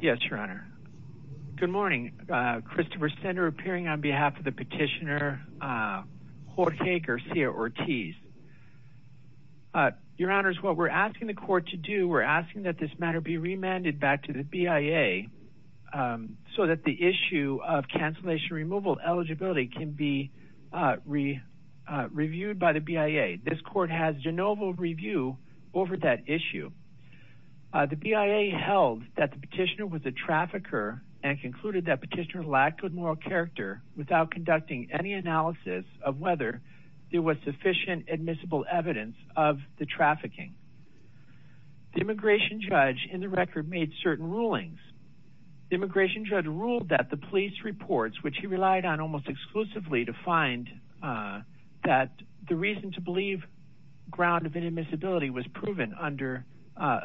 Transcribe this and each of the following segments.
Yes, your honor. Good morning. Christopher Sender appearing on behalf of the petitioner Jorge Garcia-Ortiz. Your honors, what we're asking the court to do, we're asking that this matter be remanded back to the BIA so that the issue of cancellation removal eligibility can be reviewed by the BIA. This court has de novo review over that issue. The BIA held that the petitioner was a trafficker and concluded that petitioner lacked good moral character without conducting any analysis of whether there was sufficient admissible evidence of the trafficking. The immigration judge in the record made certain rulings. The immigration judge ruled that the police reports which he relied on almost exclusively to find that the reason to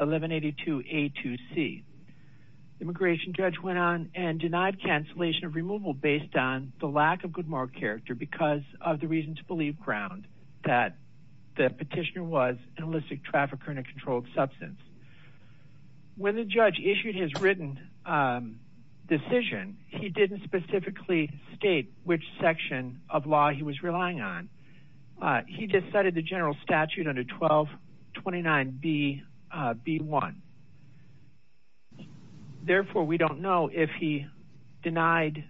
eliminated to A to C. The immigration judge went on and denied cancellation of removal based on the lack of good moral character because of the reason to believe ground that the petitioner was an illicit trafficker and a controlled substance. When the judge issued his written decision, he didn't specifically state which section of law he was relying on. He decided the general statute under 1229B1. Therefore, we don't know if he denied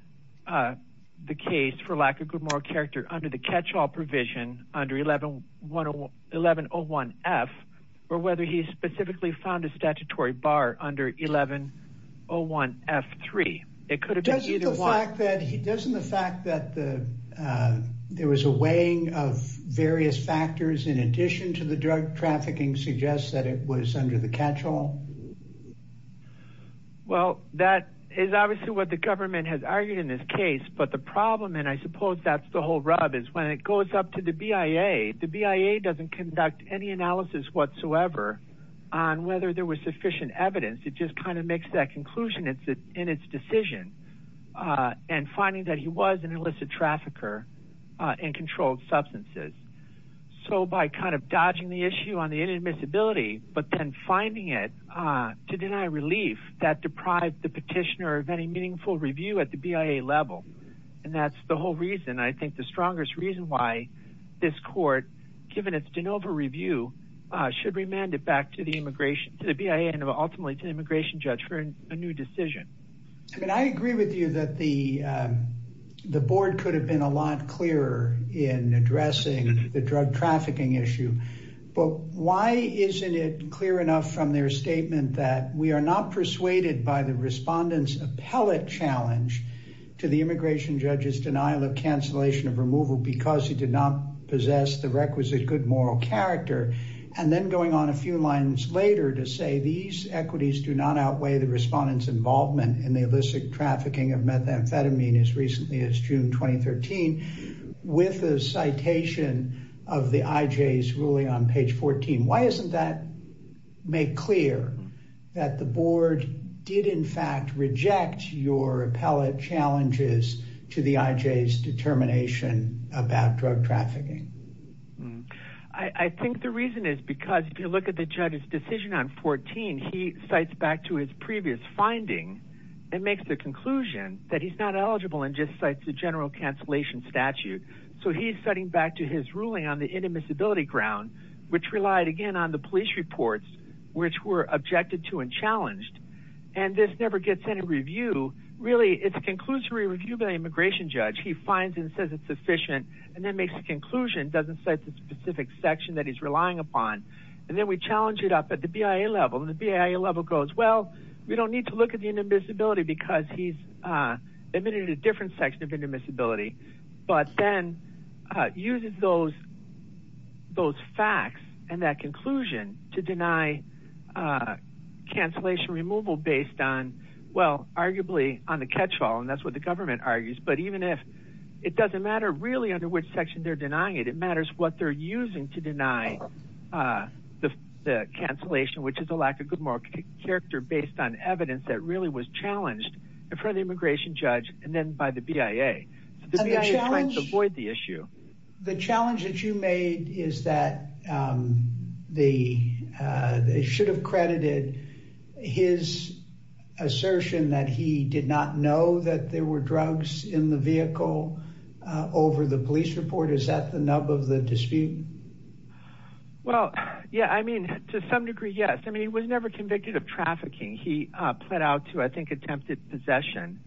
the case for lack of good moral character under the catchall provision under 1101F or whether he specifically found a statutory bar under 1101F3. It could have been either one. Doesn't the fact that there was a weighing of various factors in addition to the drug trafficking suggest that it was under the catchall? Well, that is obviously what the government has argued in this case, but the problem, and I suppose that's the whole rub, is when it goes up to the BIA, the BIA doesn't conduct any analysis whatsoever on whether there was sufficient evidence. It just kind of makes that conclusion in its decision and finding that he was an illicit trafficker and controlled substances. So, by kind of dodging the issue on the inadmissibility, but then finding it to deny relief, that deprived the petitioner of any meaningful review at the BIA level. And that's the whole reason, I think, the strongest reason why this court, given its de novo review, should remand it back to the BIA and ultimately to the immigration judge for a new decision. I mean, I agree with you that the board could have been a lot clearer in addressing the drug trafficking issue, but why isn't it clear enough from their statement that we are not persuaded by the respondent's appellate challenge to the immigration judge's denial of cancellation of removal because he did not possess the requisite good moral character, and then going on a few lines later to say these equities do not outweigh the respondent's as June 2013 with a citation of the IJ's ruling on page 14. Why isn't that made clear that the board did in fact reject your appellate challenges to the IJ's determination about drug trafficking? I think the reason is because if you look at the judge's decision on 14, he cites back to his previous finding and makes the conclusion that he's not eligible and just cites the general cancellation statute. So he's setting back to his ruling on the inadmissibility ground, which relied again on the police reports which were objected to and challenged, and this never gets any review. Really, it's a conclusory review by the immigration judge. He finds and says it's sufficient and then makes a conclusion, doesn't cite the specific section that he's relying upon, and then we challenge it up at the BIA level, and the BIA level goes, well, we don't need to look at the inadmissibility because he's admitted a different section of inadmissibility, but then uses those those facts and that conclusion to deny cancellation removal based on, well, arguably on the catch-all, and that's what the government argues, but even if it doesn't matter really under which section they're denying it, it matters what they're really was challenged in front of the immigration judge and then by the BIA. The challenge that you made is that they should have credited his assertion that he did not know that there were drugs in the vehicle over the police report. Is that the nub of the dispute? Well, yeah, I mean, to some degree, yes. I mean, he was never convicted of trafficking. He pled out to, I think, attempted possession.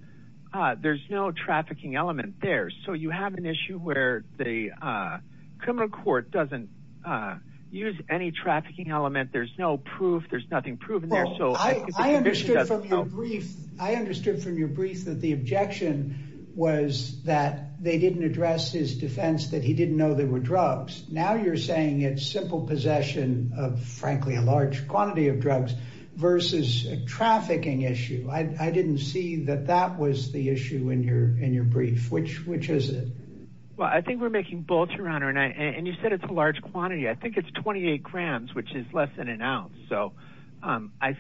There's no trafficking element there, so you have an issue where the criminal court doesn't use any trafficking element. There's no proof. There's nothing proven there, so I understood from your brief that the objection was that they didn't address his defense that he didn't know there were drugs. Now you're saying it's simple possession of, frankly, a large quantity of drugs versus a trafficking issue. I didn't see that that was the issue in your brief. Which is it? Well, I think we're making both, Your Honor, and you said it's a large quantity. I think it's 28 grams, which is less than an ounce, so I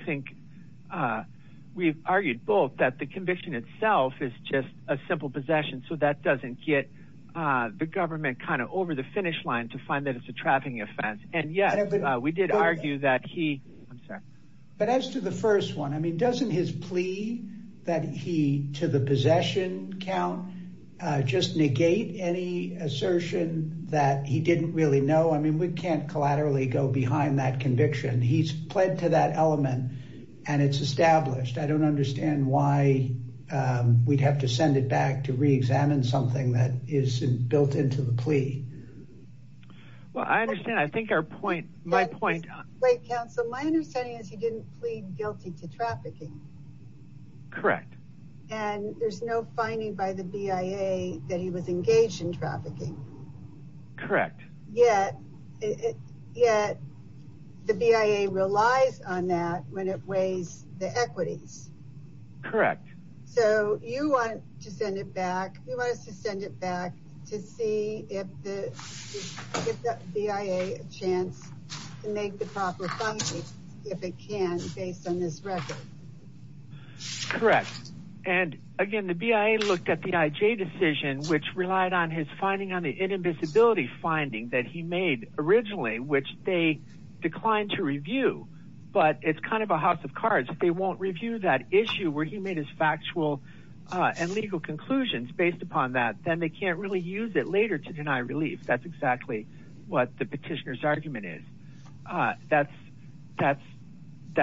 think we've is just a simple possession, so that doesn't get the government kind of over the finish line to find that it's a trafficking offense, and yet we did argue that he... I'm sorry. But as to the first one, I mean, doesn't his plea that he, to the possession count, just negate any assertion that he didn't really know? I mean, we can't collaterally go behind that conviction. He's to that element, and it's established. I don't understand why we'd have to send it back to re-examine something that is built into the plea. Well, I understand. I think our point, my point... Wait, counsel. My understanding is he didn't plead guilty to trafficking. Correct. And there's no finding by the BIA that he was engaged in trafficking. Correct. Yet, yet the BIA relies on that when it weighs the equities. Correct. So you want to send it back. You want us to send it back to see if the BIA a chance to make the proper funding, if it can, based on this record. Correct. And again, the BIA looked at the IJ decision, which relied on his finding on the inadmissibility finding that he made originally, which they declined to review. But it's kind of a house of cards. If they won't review that issue where he made his factual and legal conclusions based upon that, then they can't really use it later to deny relief. That's exactly what the petitioner's argument is. That's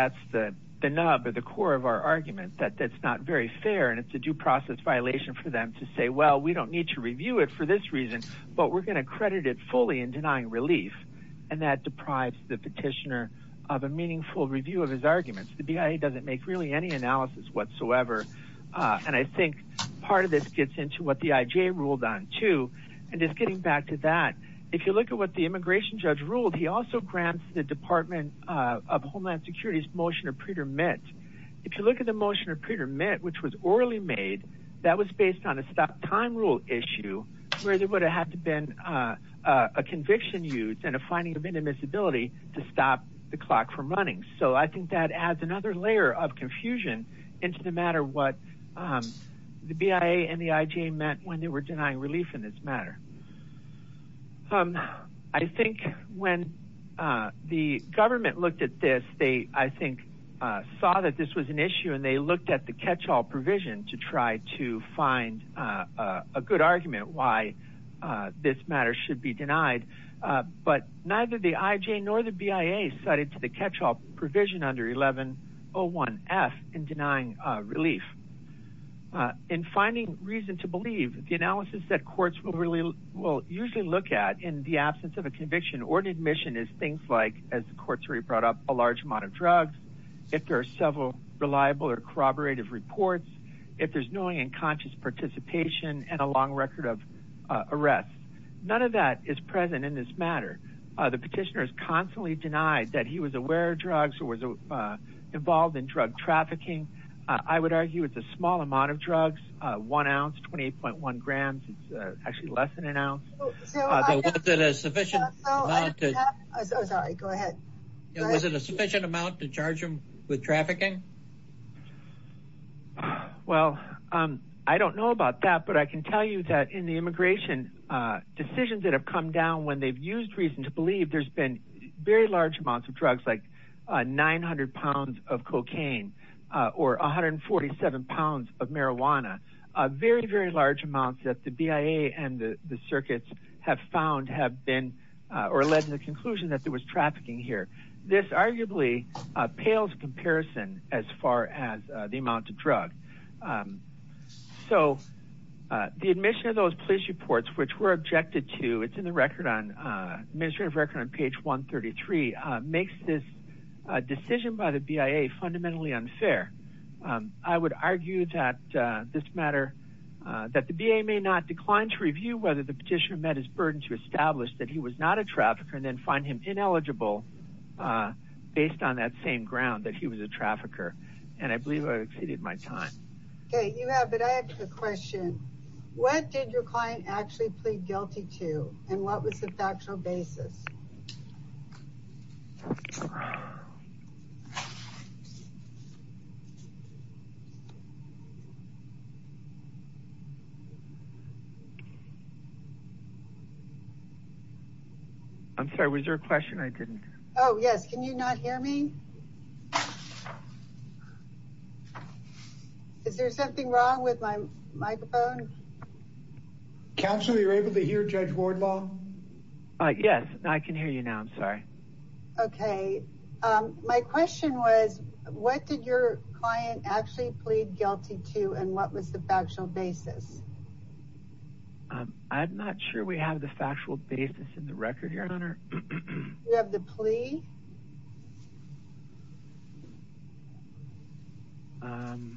the nub or the core of our argument, that that's not very fair, and it's a due process violation for them to say, well, we don't need to review it for this reason, but we're going to credit it fully in denying relief. And that deprives the petitioner of a meaningful review of his arguments. The BIA doesn't make really any analysis whatsoever. And I think part of this gets into what the IJ ruled on too. And just getting back to that, if you look at what the immigration judge ruled, he also grants the Department of Homeland Security's motion of predetermined. If you look at the motion of predetermined, which was orally made, that was based on a stop time rule issue where there would have to have been a conviction used and a finding of inadmissibility to stop the clock from running. So I think that adds another layer of confusion into the matter of what the BIA and the IJ meant when they were denying relief in this matter. I think when the government looked at this, they, I think, saw that this was an issue and they looked at the catch-all provision to try to find a good argument why this matter should be denied. But neither the IJ nor the BIA cited to the catch-all provision under 1101F in denying relief. In finding reason to believe, the analysis that courts will usually look at in the absence of a conviction or an admission is things like, as the court's already brought up, a large amount of drugs, if there are several reliable or corroborative reports, if there's knowing and conscious participation and a long record of arrests. None of that is present in this matter. The petitioner is constantly denied that he was aware of drugs or was involved in drug trafficking. I would argue it's a small amount of drugs, one ounce, 28.1 grams. It's actually less than an ounce. Was it a sufficient amount to charge him with trafficking? Well, I don't know about that, but I can tell you that in the immigration decisions that have come down when they've used reason to believe, there's been very large amounts of drugs like 900 pounds of cocaine or 147 pounds of marijuana. Very, very large amounts that the BIA and the circuits have found have been, or led to the conclusion that there was trafficking here. This arguably pales in comparison as far as the amount of drug. So, the admission of those police reports, which were objected to, it's in the record on, administrative record on page 133, makes this decision by the BIA fundamentally unfair. I would argue that this matter, that the BIA may not decline to review whether the petitioner met his burden to establish that he was not a trafficker and then find him ineligible based on that same ground that he was a trafficker. And I believe I've exceeded my time. Okay, you have, but I have a question. What did your client actually plead guilty to? And what was the factual basis? I'm sorry, was there a question I didn't hear? Oh yes, can you not hear me? Is there something wrong with my microphone? Counselor, are you able to hear Judge Wardlaw? Yes, I can hear you now, I'm sorry. Okay, my question was, what did your client actually plead guilty to and what was the factual basis? I'm not sure we have the factual basis in the record, Your Honor. You have the plea? Well,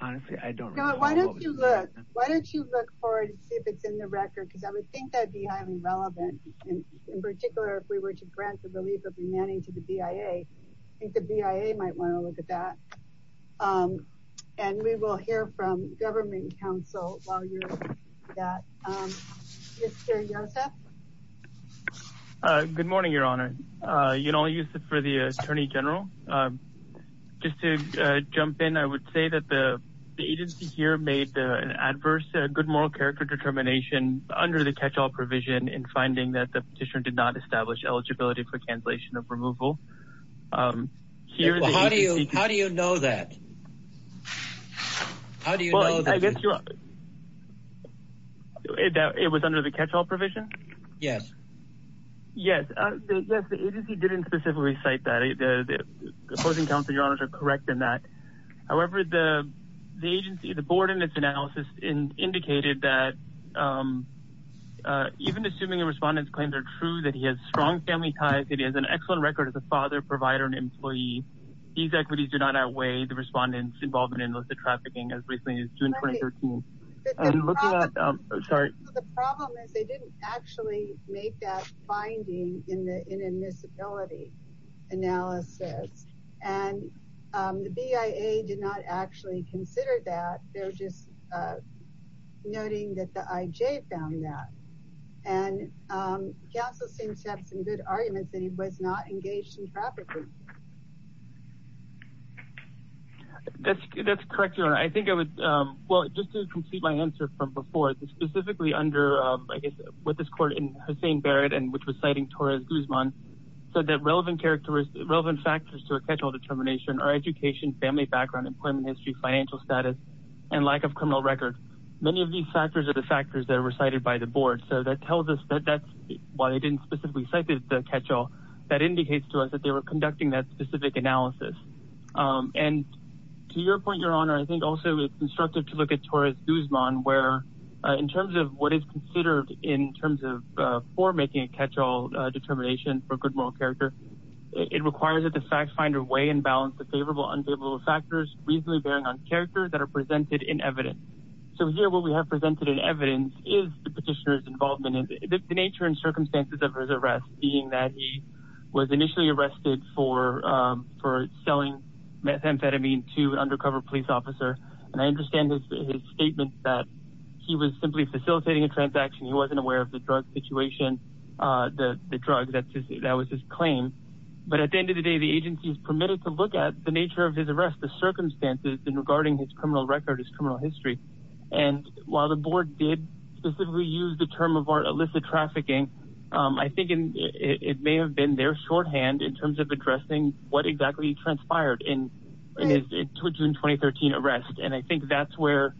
honestly, I don't know. Why don't you look? Why don't you look for it and see if it's in the record? Because I would think that'd be highly relevant. And in particular, if we were to grant the relief of the manning to the BIA, I think the BIA might want to look at that. And we will hear from government counsel while you're doing that. Mr. Yosef? Good morning, Your Honor. Yonel Yosef for the Attorney General. Just to jump in, I would say that the agency here made an adverse good moral character determination under the catch-all provision in finding that the petitioner did not establish eligibility for cancellation of removal. How do you know that? Well, I guess it was under the catch-all provision. Yes, the agency didn't specifically cite that. The opposing counsel, Your Honor, are correct in that. However, the agency, the board in its analysis indicated that even assuming the respondent's claims are true that he has strong family ties, it is an excellent record as a father, provider, and employee. These equities do not outweigh the respondent's involvement in illicit trafficking as recently as June 2013. The problem is they didn't actually make that finding in the inadmissibility analysis. And the BIA did not actually consider that. They're just noting that the IJ found that. And counsel seems to have some good arguments that he was not engaged in trafficking. That's correct, Your Honor. I think I would, well, just to complete my answer from before, specifically under, I guess, what this court in Hussain Barrett, which was citing Torres Guzman, said that relevant factors to a catch-all determination are education, family background, employment history, financial status, and lack of criminal record. Many of these factors are the factors that were cited by the board. So that tells us that that's why they didn't specifically cite the catch-all. That indicates to us that they were conducting that specific analysis. And to your point, Your Honor, I think also it's constructive to look at Torres Guzman, where in terms of what is considered in terms of for making a catch-all determination for a good moral character, it requires that the fact finder weigh and balance the favorable, unfavorable factors reasonably bearing on character that are presented in evidence. So here, what we have presented in evidence is the petitioner's involvement in the nature and circumstances of his arrest, being that he was initially arrested for selling methamphetamine to an undercover police officer. And I understand his statement that he was simply facilitating a transaction. He wasn't aware of the drug situation, the drug that was his claim. But at the end of the day, the agency is permitted to look at the nature of his arrest, the circumstances regarding his criminal record, his criminal history. And while the board did specifically use the term of illicit trafficking, I think it may have been their shorthand in terms of addressing what exactly transpired in June 2013 arrest. And I think that's where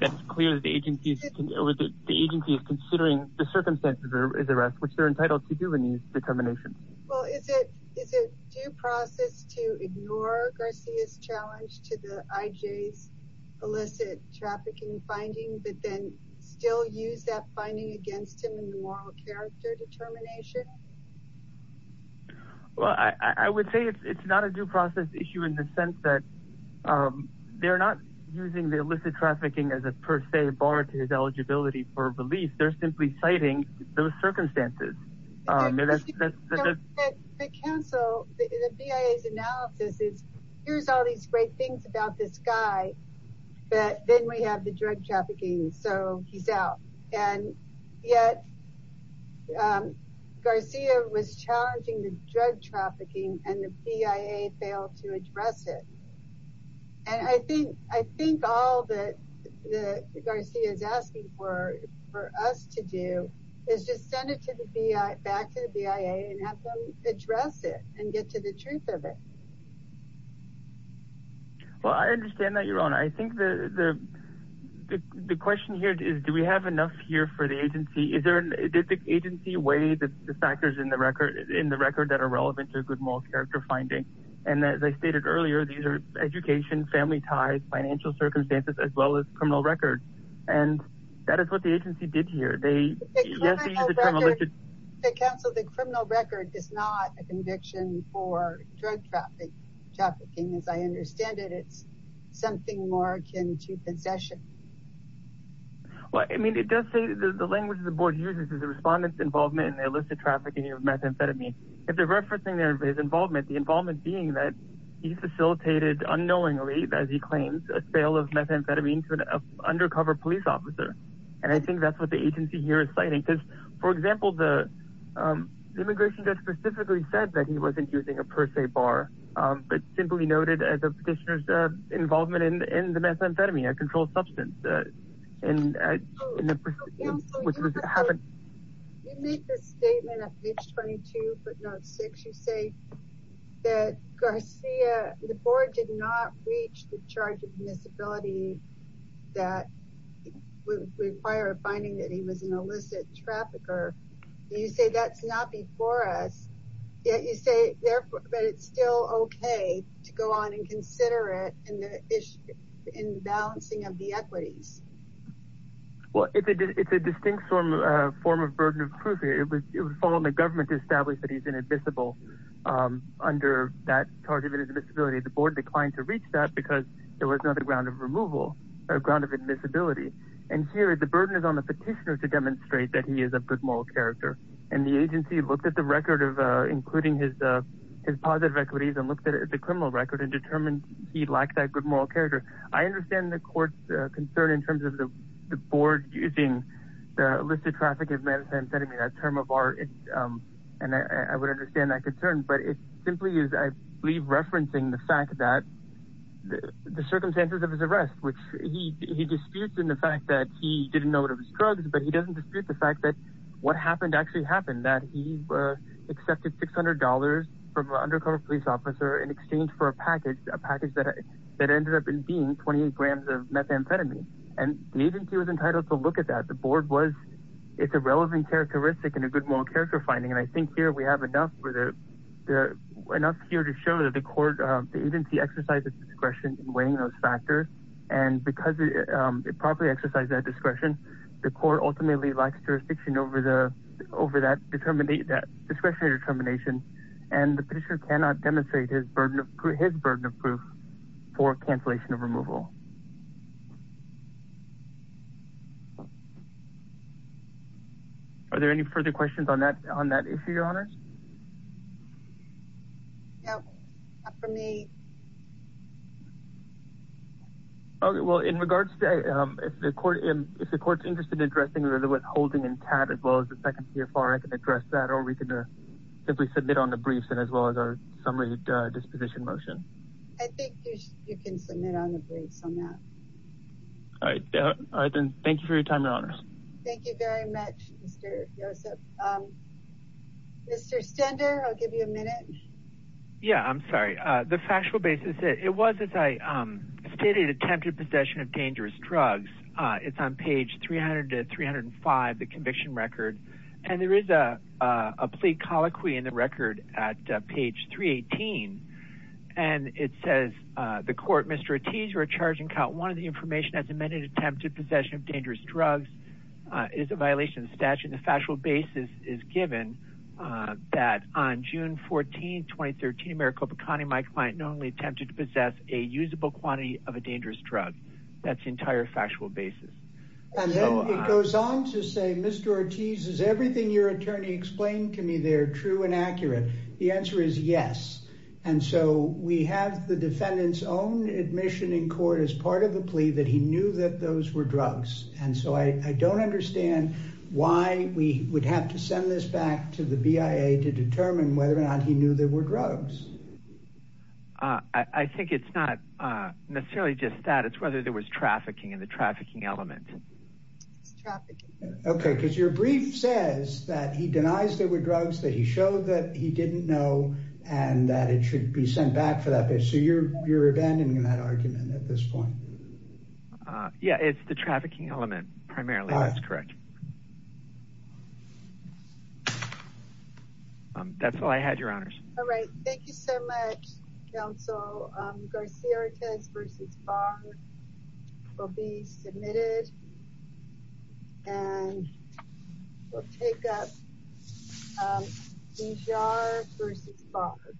it's clear that the agency is considering the circumstances of his arrest, which they're entitled to do in these determinations. Well, is it due process to ignore Garcia's challenge to the IJ's illicit trafficking finding, but then still use that finding against him in the moral character determination? Well, I would say it's not a due process issue in the sense that they're not using the illicit trafficking as a per se bar to his eligibility for release. They're simply citing those circumstances. The council, the BIA's analysis is, here's all these great things about this guy, but then we have the drug trafficking, so he's out. And yet, Garcia was challenging the drug trafficking and the BIA failed to address it. And I think all that Garcia is asking for us to do is just send it back to the BIA and have them address it and get to the truth of it. Well, I understand that, Your Honor. I think the question here is, do we have enough here for the agency? Did the agency weigh the factors in the record that are relevant to a good moral character finding? And as I stated earlier, these are education, family ties, financial circumstances, as well as criminal record. And that is what the agency did here. The criminal record is not a conviction for drug trafficking. Trafficking, as I understand it, it's something more akin to possession. Well, I mean, it does say that the language of the board uses is the respondent's involvement in the illicit trafficking of methamphetamine. If they're referencing their involvement, the involvement being that he facilitated unknowingly, as he claims, a sale of methamphetamine to an undercover police officer. And I think that's what the agency here is citing. Because, for example, the immigration judge specifically said that he wasn't using a per se bar, but simply noted the petitioner's involvement in the methamphetamine, a controlled substance. You make this statement at page 22, footnote 6. You say that the board did not reach the charge of admissibility that would require a finding that he was an illicit trafficker. You say that's not before us, yet you say it's still okay to go on and consider it in the balancing of the equities. Well, it's a distinct form of burden of proof here. It would fall on the government to establish that he's inadmissible under that charge of admissibility. The board declined to reach that because there was no other ground of removal or ground of admissibility. And here, the burden is on the petitioner to demonstrate that he is a good moral character. And the agency looked at the record of including his positive equities and looked at the criminal record and determined he lacked that good moral character. I understand the court's concern in terms of the board using the illicit trafficking of methamphetamine, that term of art. And I would understand that concern. But it simply is, I believe, referencing the fact that the circumstances of his arrest, which he disputes in the fact that he didn't know it was drugs, but he doesn't dispute the fact that what happened actually happened, that he accepted $600 from an undercover police officer in exchange for a package, a package that ended up being 28 grams of methamphetamine. And the agency was entitled to look at that. The board was, it's a relevant characteristic and a good moral character finding. And I see exercise of discretion in weighing those factors. And because it properly exercised that discretion, the court ultimately lacks jurisdiction over that discretionary determination. And the petitioner cannot demonstrate his burden of proof for cancellation of removal. Are there any further questions on that issue, Your Honors? No, not for me. Okay. Well, in regards to, if the court's interested in addressing whether it was holding and TAT as well as the second PFR, I can address that, or we can simply submit on the briefs and as well as our summary disposition motion. I think you can submit on the briefs on that. All right. Then thank you for your time, Your Honors. Thank you very much, Mr. Joseph. Mr. Stender, I'll give you a minute. Yeah, I'm sorry. The factual basis, it was as I stated, attempted possession of dangerous drugs. It's on page 300 to 305, the conviction record. And there is a plea colloquy in the record at page 318. And it says, the court, Mr. Ortiz, you're a charge in count one of the information as amended attempted possession of dangerous drugs is a violation of statute. The factual basis is given that on June 14, 2013, Maricopa County, my client knowingly attempted to possess a usable quantity of a dangerous drug. That's the entire factual basis. And then it goes on to say, Mr. Ortiz, is everything your attorney explained to me there true and accurate? The answer is yes. And so we have the defendant's own admission in court as of the plea that he knew that those were drugs. And so I don't understand why we would have to send this back to the BIA to determine whether or not he knew there were drugs. I think it's not necessarily just that. It's whether there was trafficking in the trafficking element. Okay. Because your brief says that he denies there were drugs that he showed that he didn't know and that it should be sent back for that. So you're abandoning that argument at this point? Yeah, it's the trafficking element primarily. That's correct. That's all I had, your honors. All right. Thank you so much, counsel. Garcia-Ortiz v. Barr will be submitted and we'll take up Bizarre v. Barr.